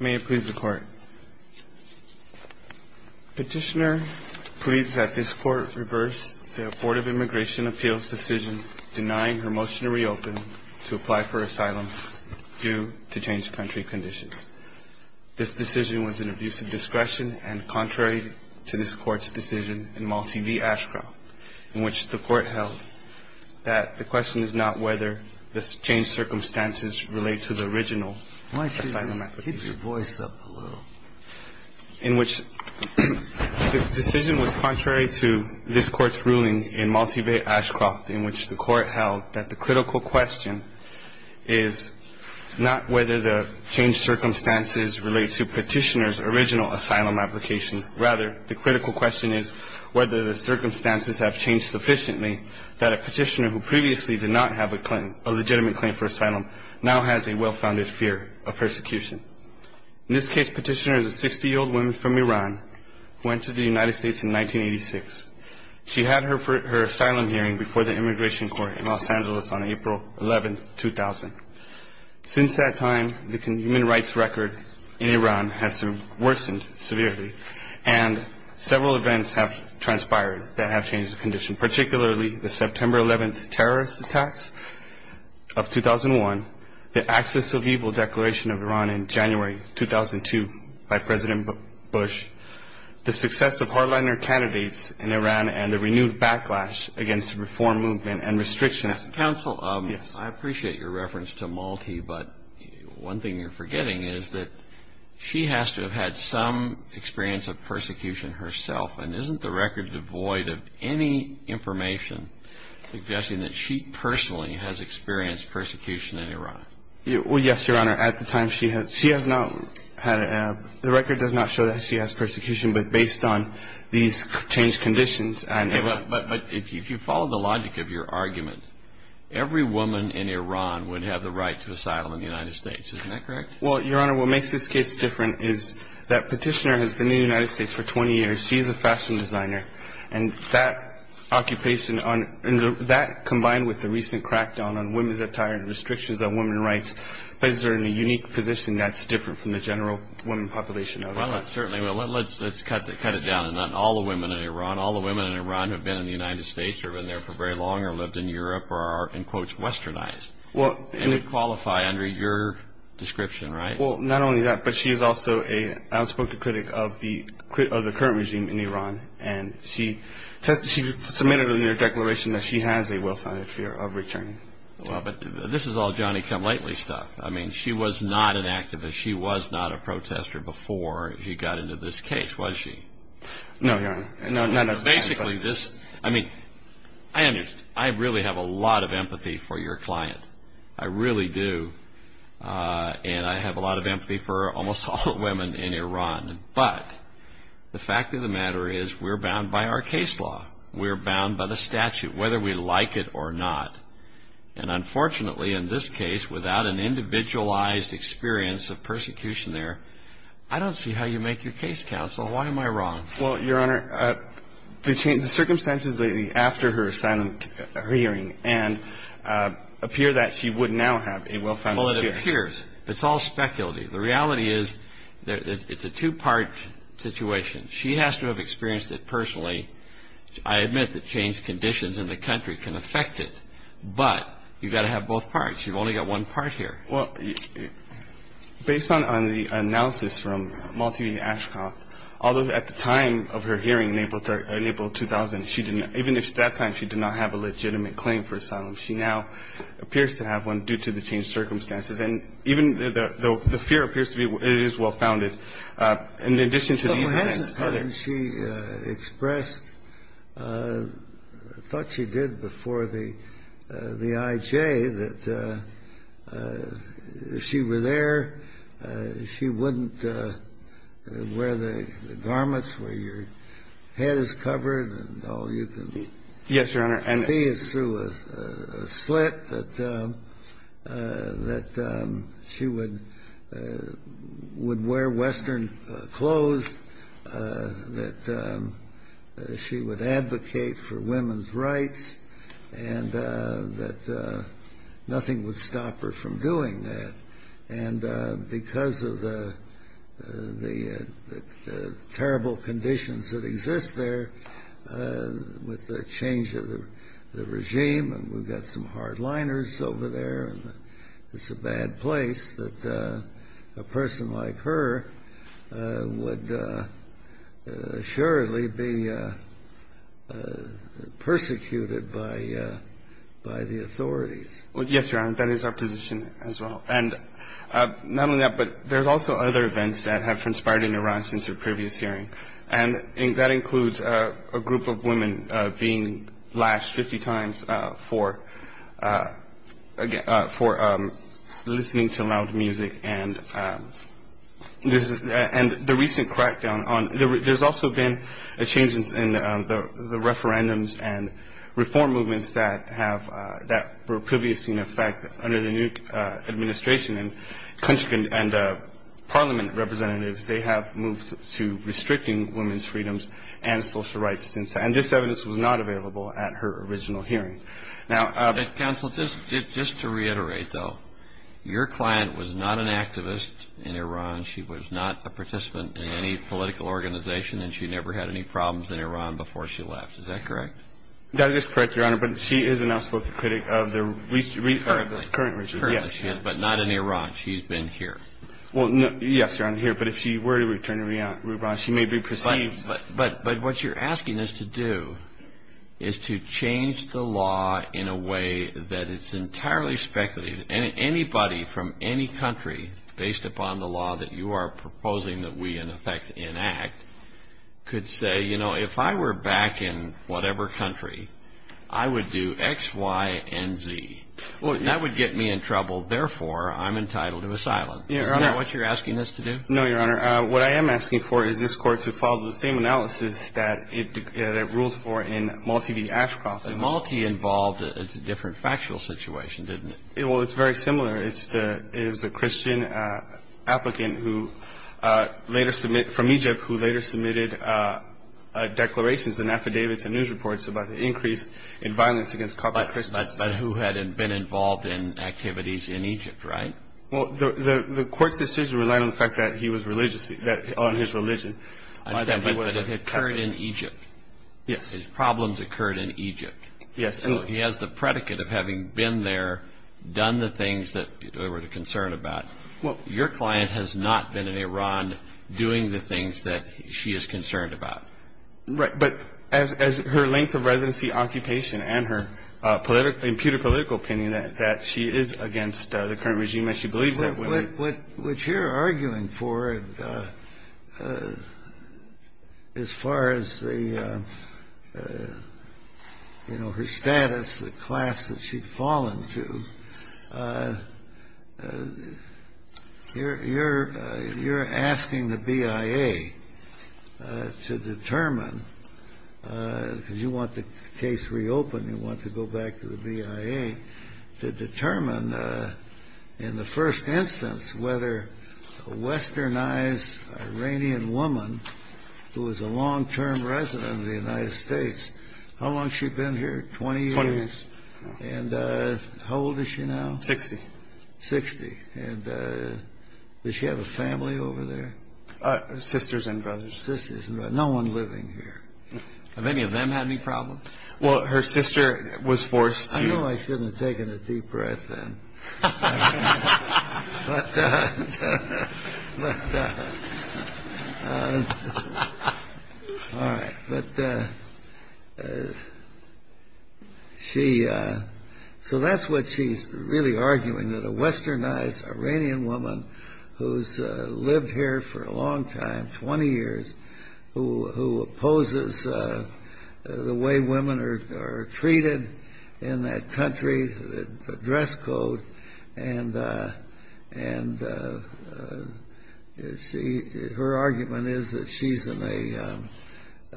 May it please the Court. Petitioner pleads that this Court reverse the Board of Immigration Appeals' decision denying her motion to reopen to apply for asylum due to changed country conditions. This decision was an abuse of discretion and contrary to this Court's decision in Malti v. Ashcroft, in which the Court held that the question is not whether the changed circumstances relate to the original asylum application. Why don't you just keep your voice up a little? In which the decision was contrary to this Court's ruling in Malti v. Ashcroft, in which the Court held that the critical question is not whether the changed circumstances relate to petitioner's original asylum application. Rather, the critical question is whether the circumstances have changed sufficiently that a petitioner who previously did not have a claim, a legitimate claim for asylum, now has a well-founded fear of persecution. In this case, petitioner is a 60-year-old woman from Iran who entered the United States in 1986. She had her asylum hearing before the Immigration Court in Los Angeles on April 11, 2000. Since that time, the human rights record in Iran has worsened severely, and several events have transpired that have changed the condition, particularly the September 11 terrorist attacks of 2001, the Access of Evil Declaration of Iran in January 2002 by President Bush, the success of hardliner candidates in Iran, and the renewed backlash against the reform movement and restrictions. Every woman in Iran would have the right to asylum in the United States. Isn't that correct? Well, Your Honor, what makes this case different is that petitioner has been in the United States for 20 years. She is a fashion designer. And that occupation on – that combined with the recent crackdown on women's attire and restrictions on women's rights places her in a unique position that's different from the general women population of Iran. Well, certainly, let's cut it down. All the women in Iran have been in the United States or have been there for very long or have lived in Europe or are, in quotes, westernized. And they qualify under your description, right? Well, not only that, but she is also an outspoken critic of the current regime in Iran. And she submitted in her declaration that she has a well-founded fear of returning. Well, but this is all Johnny-come-lately stuff. I mean, she was not an activist. She was not a protester before she got into this case, was she? No, Your Honor. Basically, this – I mean, I really have a lot of empathy for your client. I really do. And I have a lot of empathy for almost all the women in Iran. But the fact of the matter is we're bound by our case law. We're bound by the statute, whether we like it or not. And unfortunately, in this case, without an individualized experience of persecution there, I don't see how you make your case, counsel. Why am I wrong? Well, Your Honor, the circumstances after her hearing and – appear that she would now have a well-founded fear. Well, it appears. It's all speculative. The reality is it's a two-part situation. She has to have experienced it personally. I admit that changed conditions in the country can affect it. But you've got to have both parts. You've only got one part here. Well, based on the analysis from Malti Ashkoff, although at the time of her hearing in April 2000, she didn't – even if at that time she did not have a legitimate claim for asylum, she now appears to have one due to the changed circumstances. And even the fear appears to be – it is well-founded. In addition to these events, other – Yes, Your Honor. I mean, I think it's fair to say that she would – if she were there, she wouldn't wear the garments where your head is covered and all you can see is through a slit, that she would – would wear Western clothes, that she would advocate for women's rights, and that nothing would stop her from doing that. And because of the terrible conditions that exist there with the change of the regime – and we've got some hardliners over there and it's a bad place – that a person like her would surely be persecuted by the authorities. Well, yes, Your Honor, that is our position as well. And not only that, but there's also other events that have transpired in Iran since her previous hearing. And that includes a group of women being lashed 50 times for listening to loud music. And the recent crackdown on – there's also been a change in the referendums and reform movements that have – that were previously in effect under the new administration. And parliament representatives, they have moved to restricting women's freedoms and social rights since – and this evidence was not available at her original hearing. Now – Counsel, just to reiterate, though, your client was not an activist in Iran, she was not a participant in any political organization, and she never had any problems in Iran before she left. Is that correct? That is correct, Your Honor, but she is an outspoken critic of the – Currently. Current regime, yes. But not in Iran. She's been here. Well, yes, Your Honor, here. But if she were to return to Iran, she may be perceived – But what you're asking us to do is to change the law in a way that it's entirely speculative. Anybody from any country, based upon the law that you are proposing that we in effect enact, could say, you know, if I were back in whatever country, I would do X, Y, and Z. Well, that would get me in trouble. Therefore, I'm entitled to asylum. Your Honor – Is that what you're asking us to do? No, Your Honor. What I am asking for is this Court to follow the same analysis that it rules for in Malti v. Ashcroft. Malti involved a different factual situation, didn't it? Well, it's very similar. It's the – it was a Christian applicant who later – from Egypt who later submitted declarations and affidavits and news reports about the increase in violence against Catholic Christians. But who had been involved in activities in Egypt, right? Well, the Court's decision relied on the fact that he was religious – on his religion. But it occurred in Egypt. Yes. His problems occurred in Egypt. Yes. So he has the predicate of having been there, done the things that they were concerned about. Your client has not been in Iran doing the things that she is concerned about. Right. But as her length of residency, occupation, and her political – imputed political opinion, that she is against the current regime, and she believes that – What you're arguing for, as far as the – you know, her status, the class that she'd fallen to, you're asking the BIA to determine – because you want the case reopened, you want to go back to the BIA – to determine, in the first instance, whether a westernized Iranian woman who was a long-term resident of the United States – how long has she been here, 20 years? Twenty years. And how old is she now? Sixty. Sixty. And does she have a family over there? Sisters and brothers. Sisters and brothers. No one living here. Have any of them had any problems? Well, her sister was forced to – Well, you know I shouldn't have taken a deep breath then. But – all right. But she – so that's what she's really arguing, that a westernized Iranian woman who's lived here for a long time, 20 years, who opposes the way women are treated in that country, the dress code, and she – her argument is that she's in a –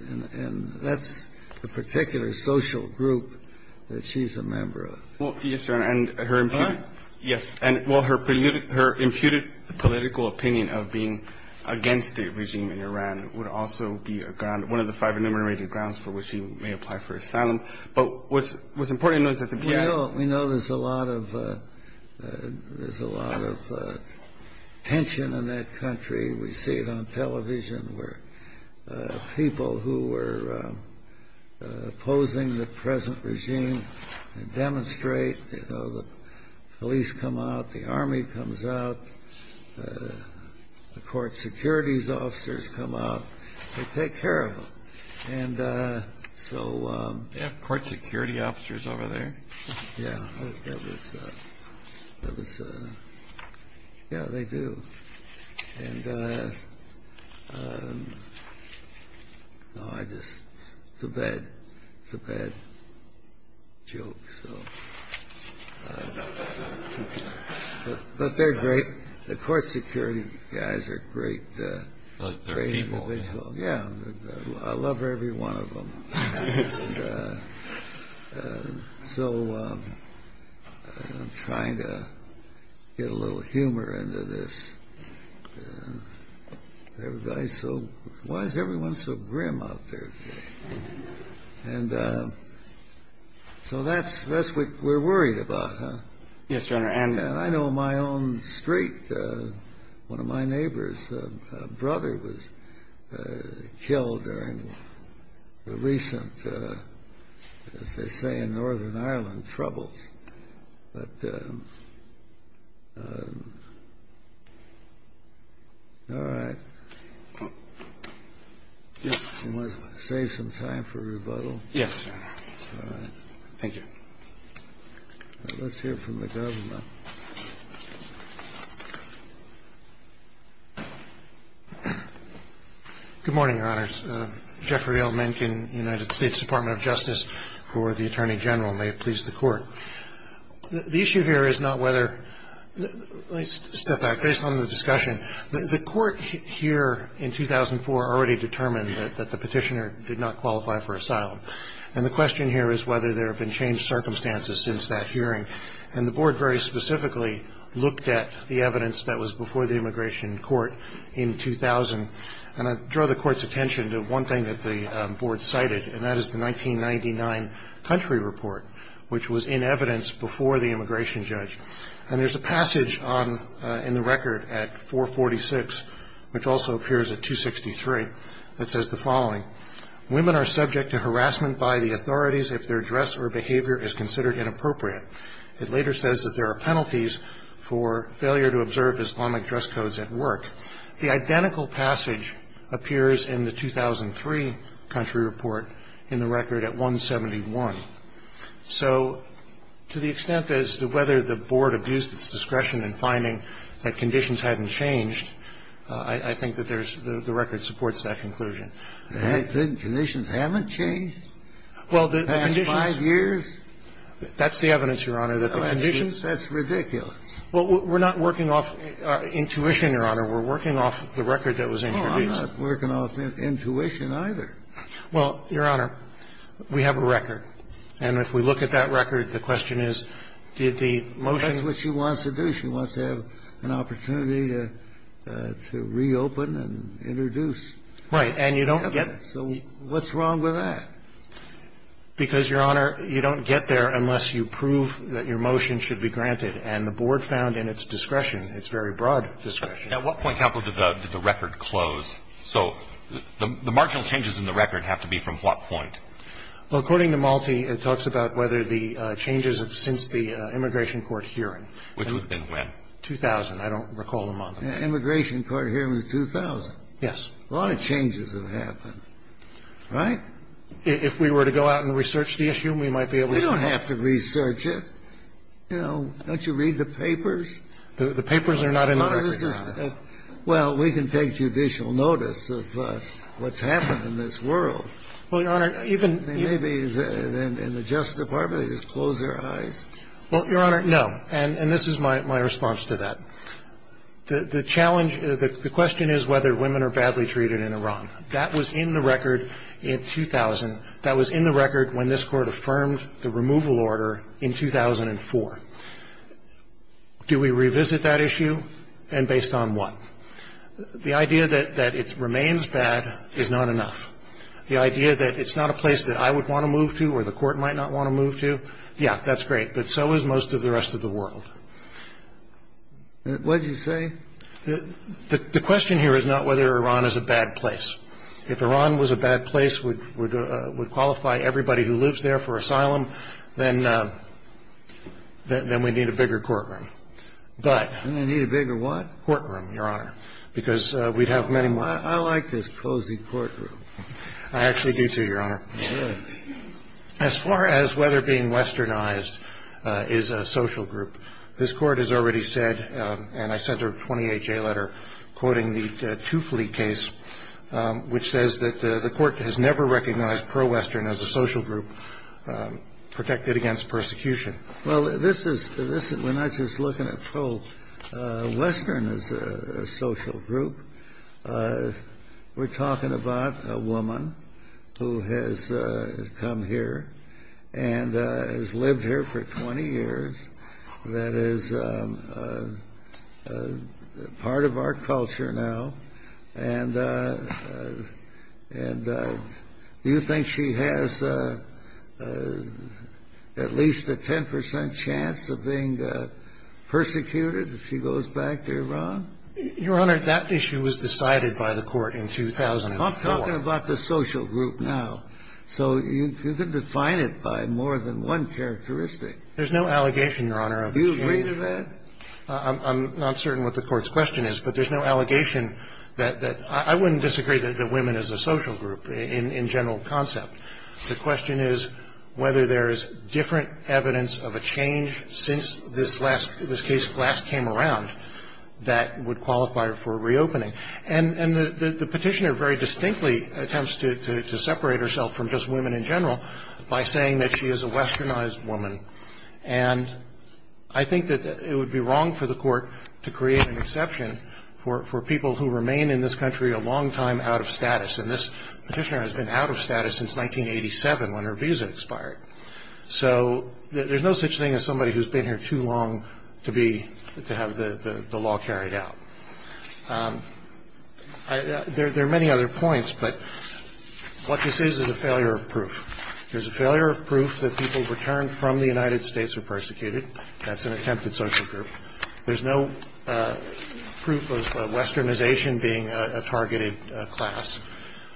and that's the particular social group that she's a member of. Well, yes, Your Honor, and her – Pardon? Yes. And, well, her imputed political opinion of being against a regime in Iran would also be a ground – one of the five enumerated grounds for which she may apply for asylum. But what's important is that the – We know there's a lot of – there's a lot of tension in that country. We see it on television where people who were opposing the present regime demonstrate. You know, the police come out. The army comes out. The court securities officers come out. They take care of them. And so – They have court security officers over there? Yeah. That was – that was – yeah, they do. And – no, I just – it's a bad – it's a bad joke, so – but they're great. The court security guys are great. But they're evil. Yeah. I love every one of them. And so I'm trying to get a little humor into this. Everybody's so – why is everyone so grim out there today? And so that's – that's what we're worried about, huh? Yes, Your Honor, and – Yeah, I know my own street. One of my neighbor's brother was killed during the recent, as they say in Northern Ireland, troubles. But – all right. You want to save some time for rebuttal? Yes, Your Honor. All right. Thank you. Let's hear from the government. Good morning, Your Honors. Jeffrey L. Mencken, United States Department of Justice, for the Attorney General. May it please the Court. The issue here is not whether – let me step back. Based on the discussion, the Court here in 2004 already determined that the Petitioner did not qualify for asylum. And the question here is whether there have been changed circumstances since that hearing. And the Board very specifically looked at the evidence that was before the immigration court in 2000. And I draw the Court's attention to one thing that the Board cited, and that is the 1999 country report, which was in evidence before the immigration judge. And there's a passage on – in the record at 446, which also appears at 263, that says the following. Women are subject to harassment by the authorities if their dress or behavior is considered inappropriate. It later says that there are penalties for failure to observe Islamic dress codes at work. The identical passage appears in the 2003 country report in the record at 171. So to the extent as to whether the Board abused its discretion in finding that conditions hadn't changed, I think that there's – the record supports that conclusion. The conditions haven't changed in the past five years. That's the evidence, Your Honor, that the conditions – That's ridiculous. Well, we're not working off intuition, Your Honor. We're working off the record that was introduced. Oh, I'm not working off intuition either. Well, Your Honor, we have a record. And if we look at that record, the question is, did the motion – That's what she wants to do. She wants to have an opportunity to reopen and introduce. Right. And you don't get it. So what's wrong with that? Because, Your Honor, you don't get there unless you prove that your motion should be granted. And the Board found in its discretion, its very broad discretion. At what point, counsel, did the record close? So the marginal changes in the record have to be from what point? Well, according to Malte, it talks about whether the changes have since the immigration court hearing. Which would have been when? 2000. I don't recall the month. Immigration court hearing was 2000. Yes. A lot of changes have happened. Right? If we were to go out and research the issue, we might be able to find out. We don't have to research it. You know, don't you read the papers? The papers are not enough. Well, we can take judicial notice of what's happened in this world. Well, Your Honor, even – Maybe in the Justice Department they just close their eyes. Well, Your Honor, no. And this is my response to that. The challenge – the question is whether women are badly treated in Iran. That was in the record in 2000. That was in the record when this Court affirmed the removal order in 2004. Do we revisit that issue and based on what? The idea that it remains bad is not enough. The idea that it's not a place that I would want to move to or the Court might not want to move to, yeah, that's great, but so is most of the rest of the world. What did you say? The question here is not whether Iran is a bad place. If Iran was a bad place, would qualify everybody who lives there for asylum, then we'd need a bigger courtroom. We'd need a bigger what? Courtroom, Your Honor, because we'd have many more. I like this cozy courtroom. I actually do, too, Your Honor. Good. As far as whether being westernized is a social group, this Court has already said, and I sent her a 28-J letter quoting the Tufli case, which says that the Court has never recognized pro-western as a social group protected against persecution. Well, this is – we're not just looking at pro-western as a social group. We're talking about a woman who has come here and has lived here for 20 years, that is part of our culture now. And do you think she has at least a 10 percent chance of being persecuted if she goes back to Iran? Your Honor, that issue was decided by the Court in 2004. I'm talking about the social group now. So you can define it by more than one characteristic. There's no allegation, Your Honor, of a change. Do you agree to that? I'm not certain what the Court's question is, but there's no allegation that – I wouldn't disagree that women is a social group in general concept. The question is whether there is different evidence of a change since this last – this case last came around that would qualify her for reopening. And the Petitioner very distinctly attempts to separate herself from just women in general by saying that she is a westernized woman. And I think that it would be wrong for the Court to create an exception for people who remain in this country a long time out of status. And this Petitioner has been out of status since 1987 when her visa expired. So there's no such thing as somebody who's been here too long to be – to have the law carried out. There are many other points, but what this is is a failure of proof. There's a failure of proof that people returned from the United States were persecuted. That's an attempted social group. There's no proof of westernization being a targeted class.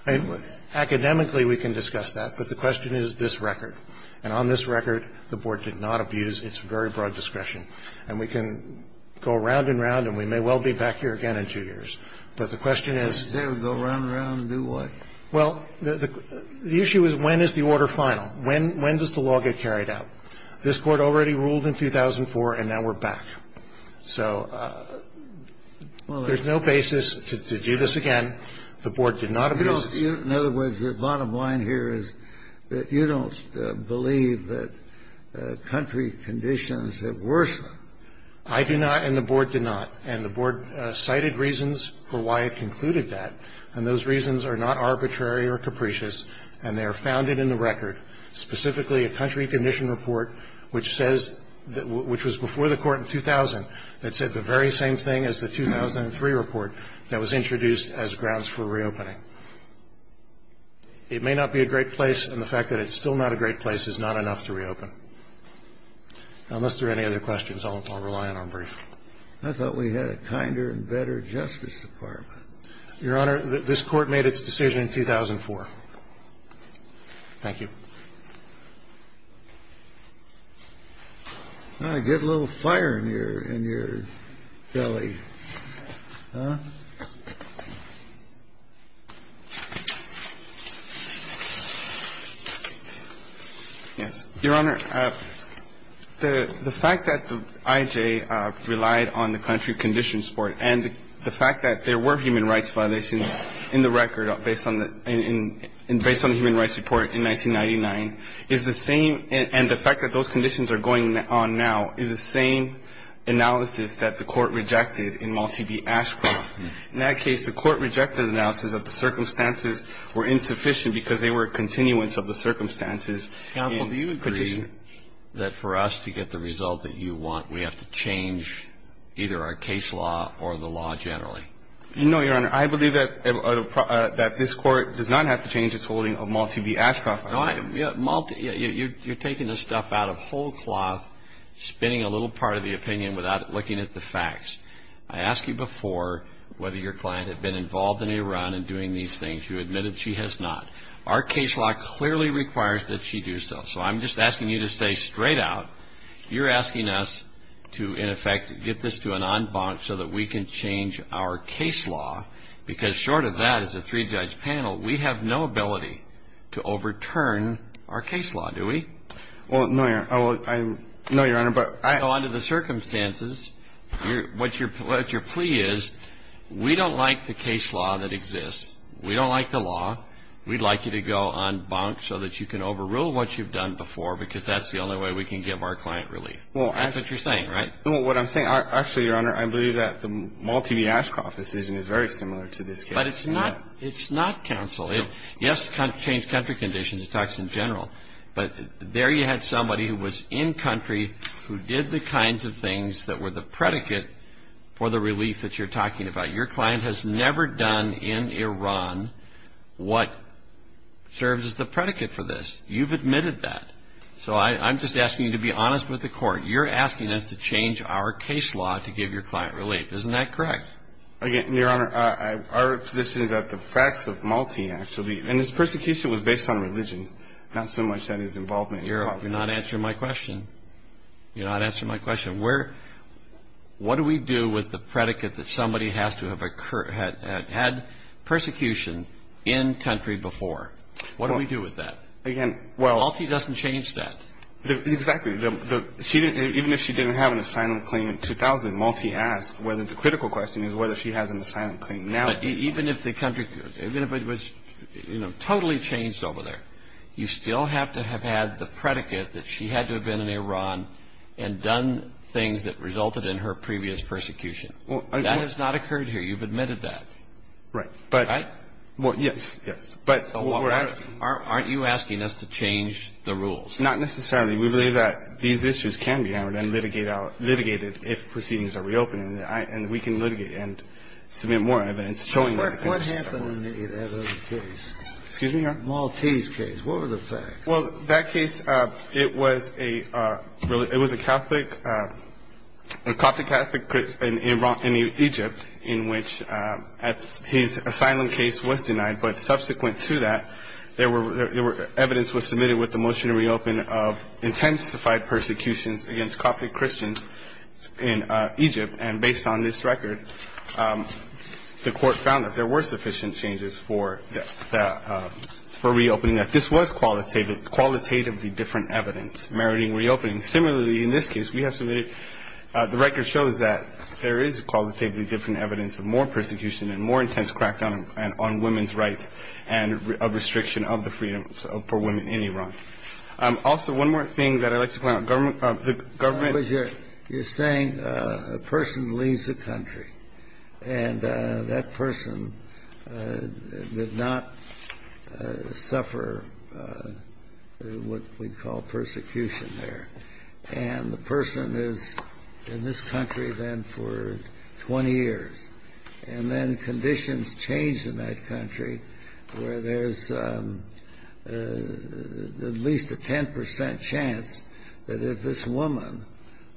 And academically, we can discuss that, but the question is this record. And on this record, the Board did not abuse its very broad discretion. And we can go round and round, and we may well be back here again in two years. But the question is – Kennedy, they would go round and round and do what? Well, the issue is when is the order final? When does the law get carried out? This Court already ruled in 2004, and now we're back. So there's no basis to do this again. The Board did not abuse this. In other words, the bottom line here is that you don't believe that country conditions have worsened. I do not, and the Board did not. And the Board cited reasons for why it concluded that. And those reasons are not arbitrary or capricious, and they are founded in the record, specifically a country condition report which says – which was before the Court in 2000 that said the very same thing as the 2003 report that was introduced as grounds for reopening. It may not be a great place, and the fact that it's still not a great place is not enough to reopen. Unless there are any other questions, I'll rely on our brief. I thought we had a kinder and better Justice Department. Your Honor, this Court made its decision in 2004. Thank you. Get a little fire in your belly, huh? Yes. Your Honor, the fact that the I.J. relied on the country conditions report and the fact that there were human rights violations in the record based on the human rights report in 1999 is the same – and the fact that those conditions are going on now is the same analysis that the Court rejected in Malti v. Ashcroft. In that case, the Court rejected the analysis that the circumstances were insufficient because they were a continuance of the circumstances. Counsel, do you agree that for us to get the result that you want, we have to change either our case law or the law generally? No, Your Honor. I believe that this Court does not have to change its holding of Malti v. Ashcroft. Malti – you're taking this stuff out of whole cloth, spinning a little part of the opinion without looking at the facts. I asked you before whether your client had been involved in Iran and doing these things. You admitted she has not. Our case law clearly requires that she do so. So I'm just asking you to stay straight out. You're asking us to, in effect, get this to an en banc so that we can change our case law, because short of that, as a three-judge panel, we have no ability to overturn our case law, do we? Well, no, Your Honor. No, Your Honor, but I – So under the circumstances, what your plea is, we don't like the case law that exists. We don't like the law. We'd like you to go en banc so that you can overrule what you've done before, because that's the only way we can give our client relief. Well, I – That's what you're saying, right? Well, what I'm saying – actually, Your Honor, I believe that the Malti v. Ashcroft decision is very similar to this case. But it's not – it's not counsel. Yes, it changed country conditions. It talks in general. But there you had somebody who was in country, who did the kinds of things that were the predicate for the relief that you're talking about. Your client has never done in Iran what serves as the predicate for this. You've admitted that. So I'm just asking you to be honest with the Court. You're asking us to change our case law to give your client relief. Isn't that correct? Again, Your Honor, our position is that the facts of Malti actually – and his persecution was based on religion, not so much on his involvement in politics. You're not answering my question. You're not answering my question. Where – what do we do with the predicate that somebody has to have had persecution in country before? What do we do with that? Again, well – Malti doesn't change that. Exactly. She didn't – even if she didn't have an asylum claim in 2000, Malti asked whether the critical question is whether she has an asylum claim now. But even if the country – even if it was, you know, totally changed over there, you still have to have had the predicate that she had to have been in Iran and done things that resulted in her previous persecution. That has not occurred here. You've admitted that. Right. But – Right? Well, yes, yes. But what we're asking – Aren't you asking us to change the rules? Not necessarily. We believe that these issues can be hammered and litigated if proceedings are reopened. And we can litigate and submit more evidence showing that – What happened in that other case? Excuse me, Your Honor? Malti's case. What were the facts? Well, that case, it was a – it was a Catholic – a Catholic-Catholic in Egypt in which his asylum case was denied. But subsequent to that, there were – evidence was submitted with the motion to reopen of intensified persecutions against Catholic Christians in Egypt. And based on this record, the Court found that there were sufficient changes for that – for reopening, that this was qualitatively different evidence meriting reopening. Similarly, in this case, we have submitted – the record shows that there is qualitatively different evidence of more persecution and more intense crackdown on women's rights and a restriction of the freedom for women in Iran. Also, one more thing that I'd like to point out. Government – the government – But you're – you're saying a person leaves the country and that person did not suffer what we'd call persecution there. And the person is in this country then for 20 years. And then conditions change in that country where there's at least a 10 percent chance that if this woman,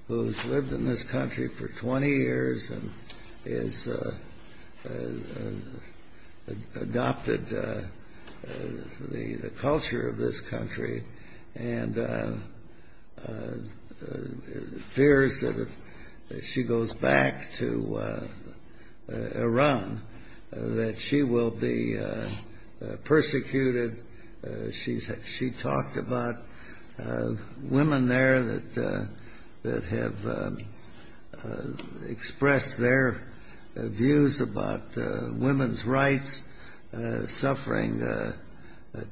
who's lived in this country for 20 years and has adopted the culture of this country and fears that if she goes back to Iran that she will be persecuted. She's – she talked about women there that have expressed their views about women's rights, suffering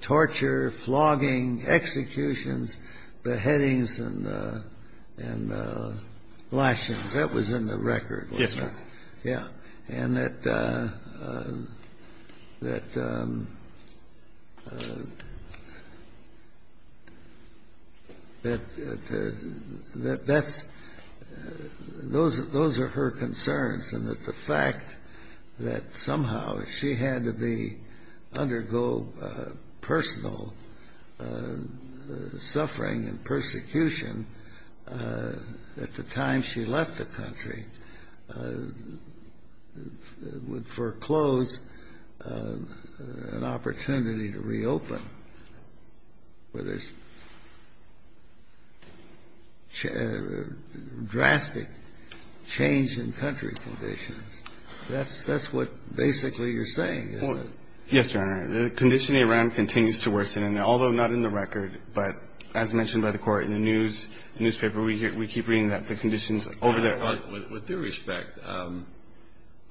torture, flogging, executions, beheadings, and lashings. That was in the record, wasn't it? Yes, sir. Yeah. And that – that – that's – those are her concerns and that the fact that somehow she had to be – undergo personal suffering and persecution at the time she left the country would foreclose an opportunity to reopen where there's drastic change in country conditions. That's – that's what basically you're saying, isn't it? Well, yes, Your Honor. The condition in Iran continues to worsen. And although not in the record, but as mentioned by the Court in the news – newspaper, we keep reading that the conditions over there are – With due respect,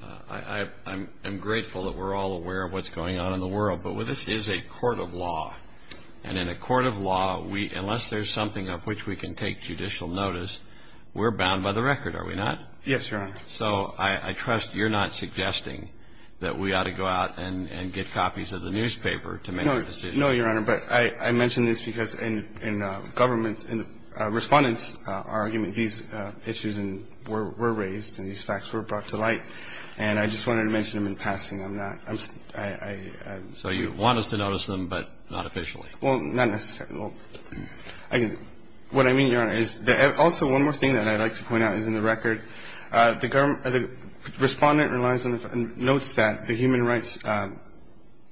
I'm grateful that we're all aware of what's going on in the world. But this is a court of law. And in a court of law, we – unless there's something of which we can take judicial notice, we're bound by the record, are we not? Yes, Your Honor. So I trust you're not suggesting that we ought to go out and get copies of the newspaper to make a decision. No. No, Your Honor. But I mention this because in government – in respondents' argument, these issues were raised and these facts were brought to light. And I just wanted to mention them in passing. I'm not – I'm – I'm – So you want us to notice them, but not officially? Well, not necessarily. Well, I – what I mean, Your Honor, is – also, one more thing that I'd like to point out is in the record, the government – the respondent relies on the – notes that the human rights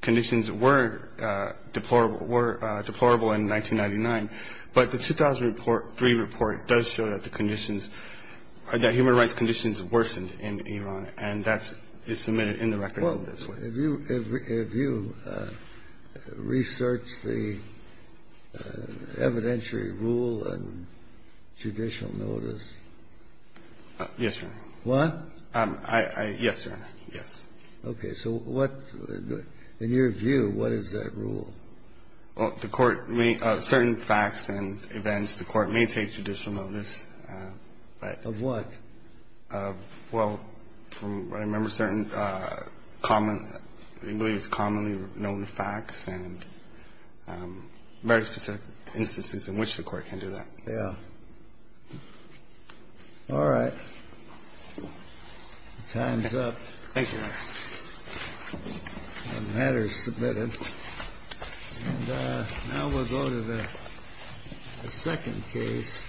conditions were deplorable – were deplorable in 1999. But the 2003 report does show that the conditions – that human rights conditions worsened in Iran. And that is submitted in the record in this way. Have you – have you researched the evidentiary rule on judicial notice? Yes, Your Honor. What? Yes, Your Honor. Yes. Okay. So what – in your view, what is that rule? Well, the court may – certain facts and events, the court may take judicial notice. Of what? Well, from what I remember, certain common – at least commonly known facts and very specific instances in which the court can do that. Yeah. All right. Time's up. Thank you, Your Honor. The matter is submitted. And now we'll go to the second case.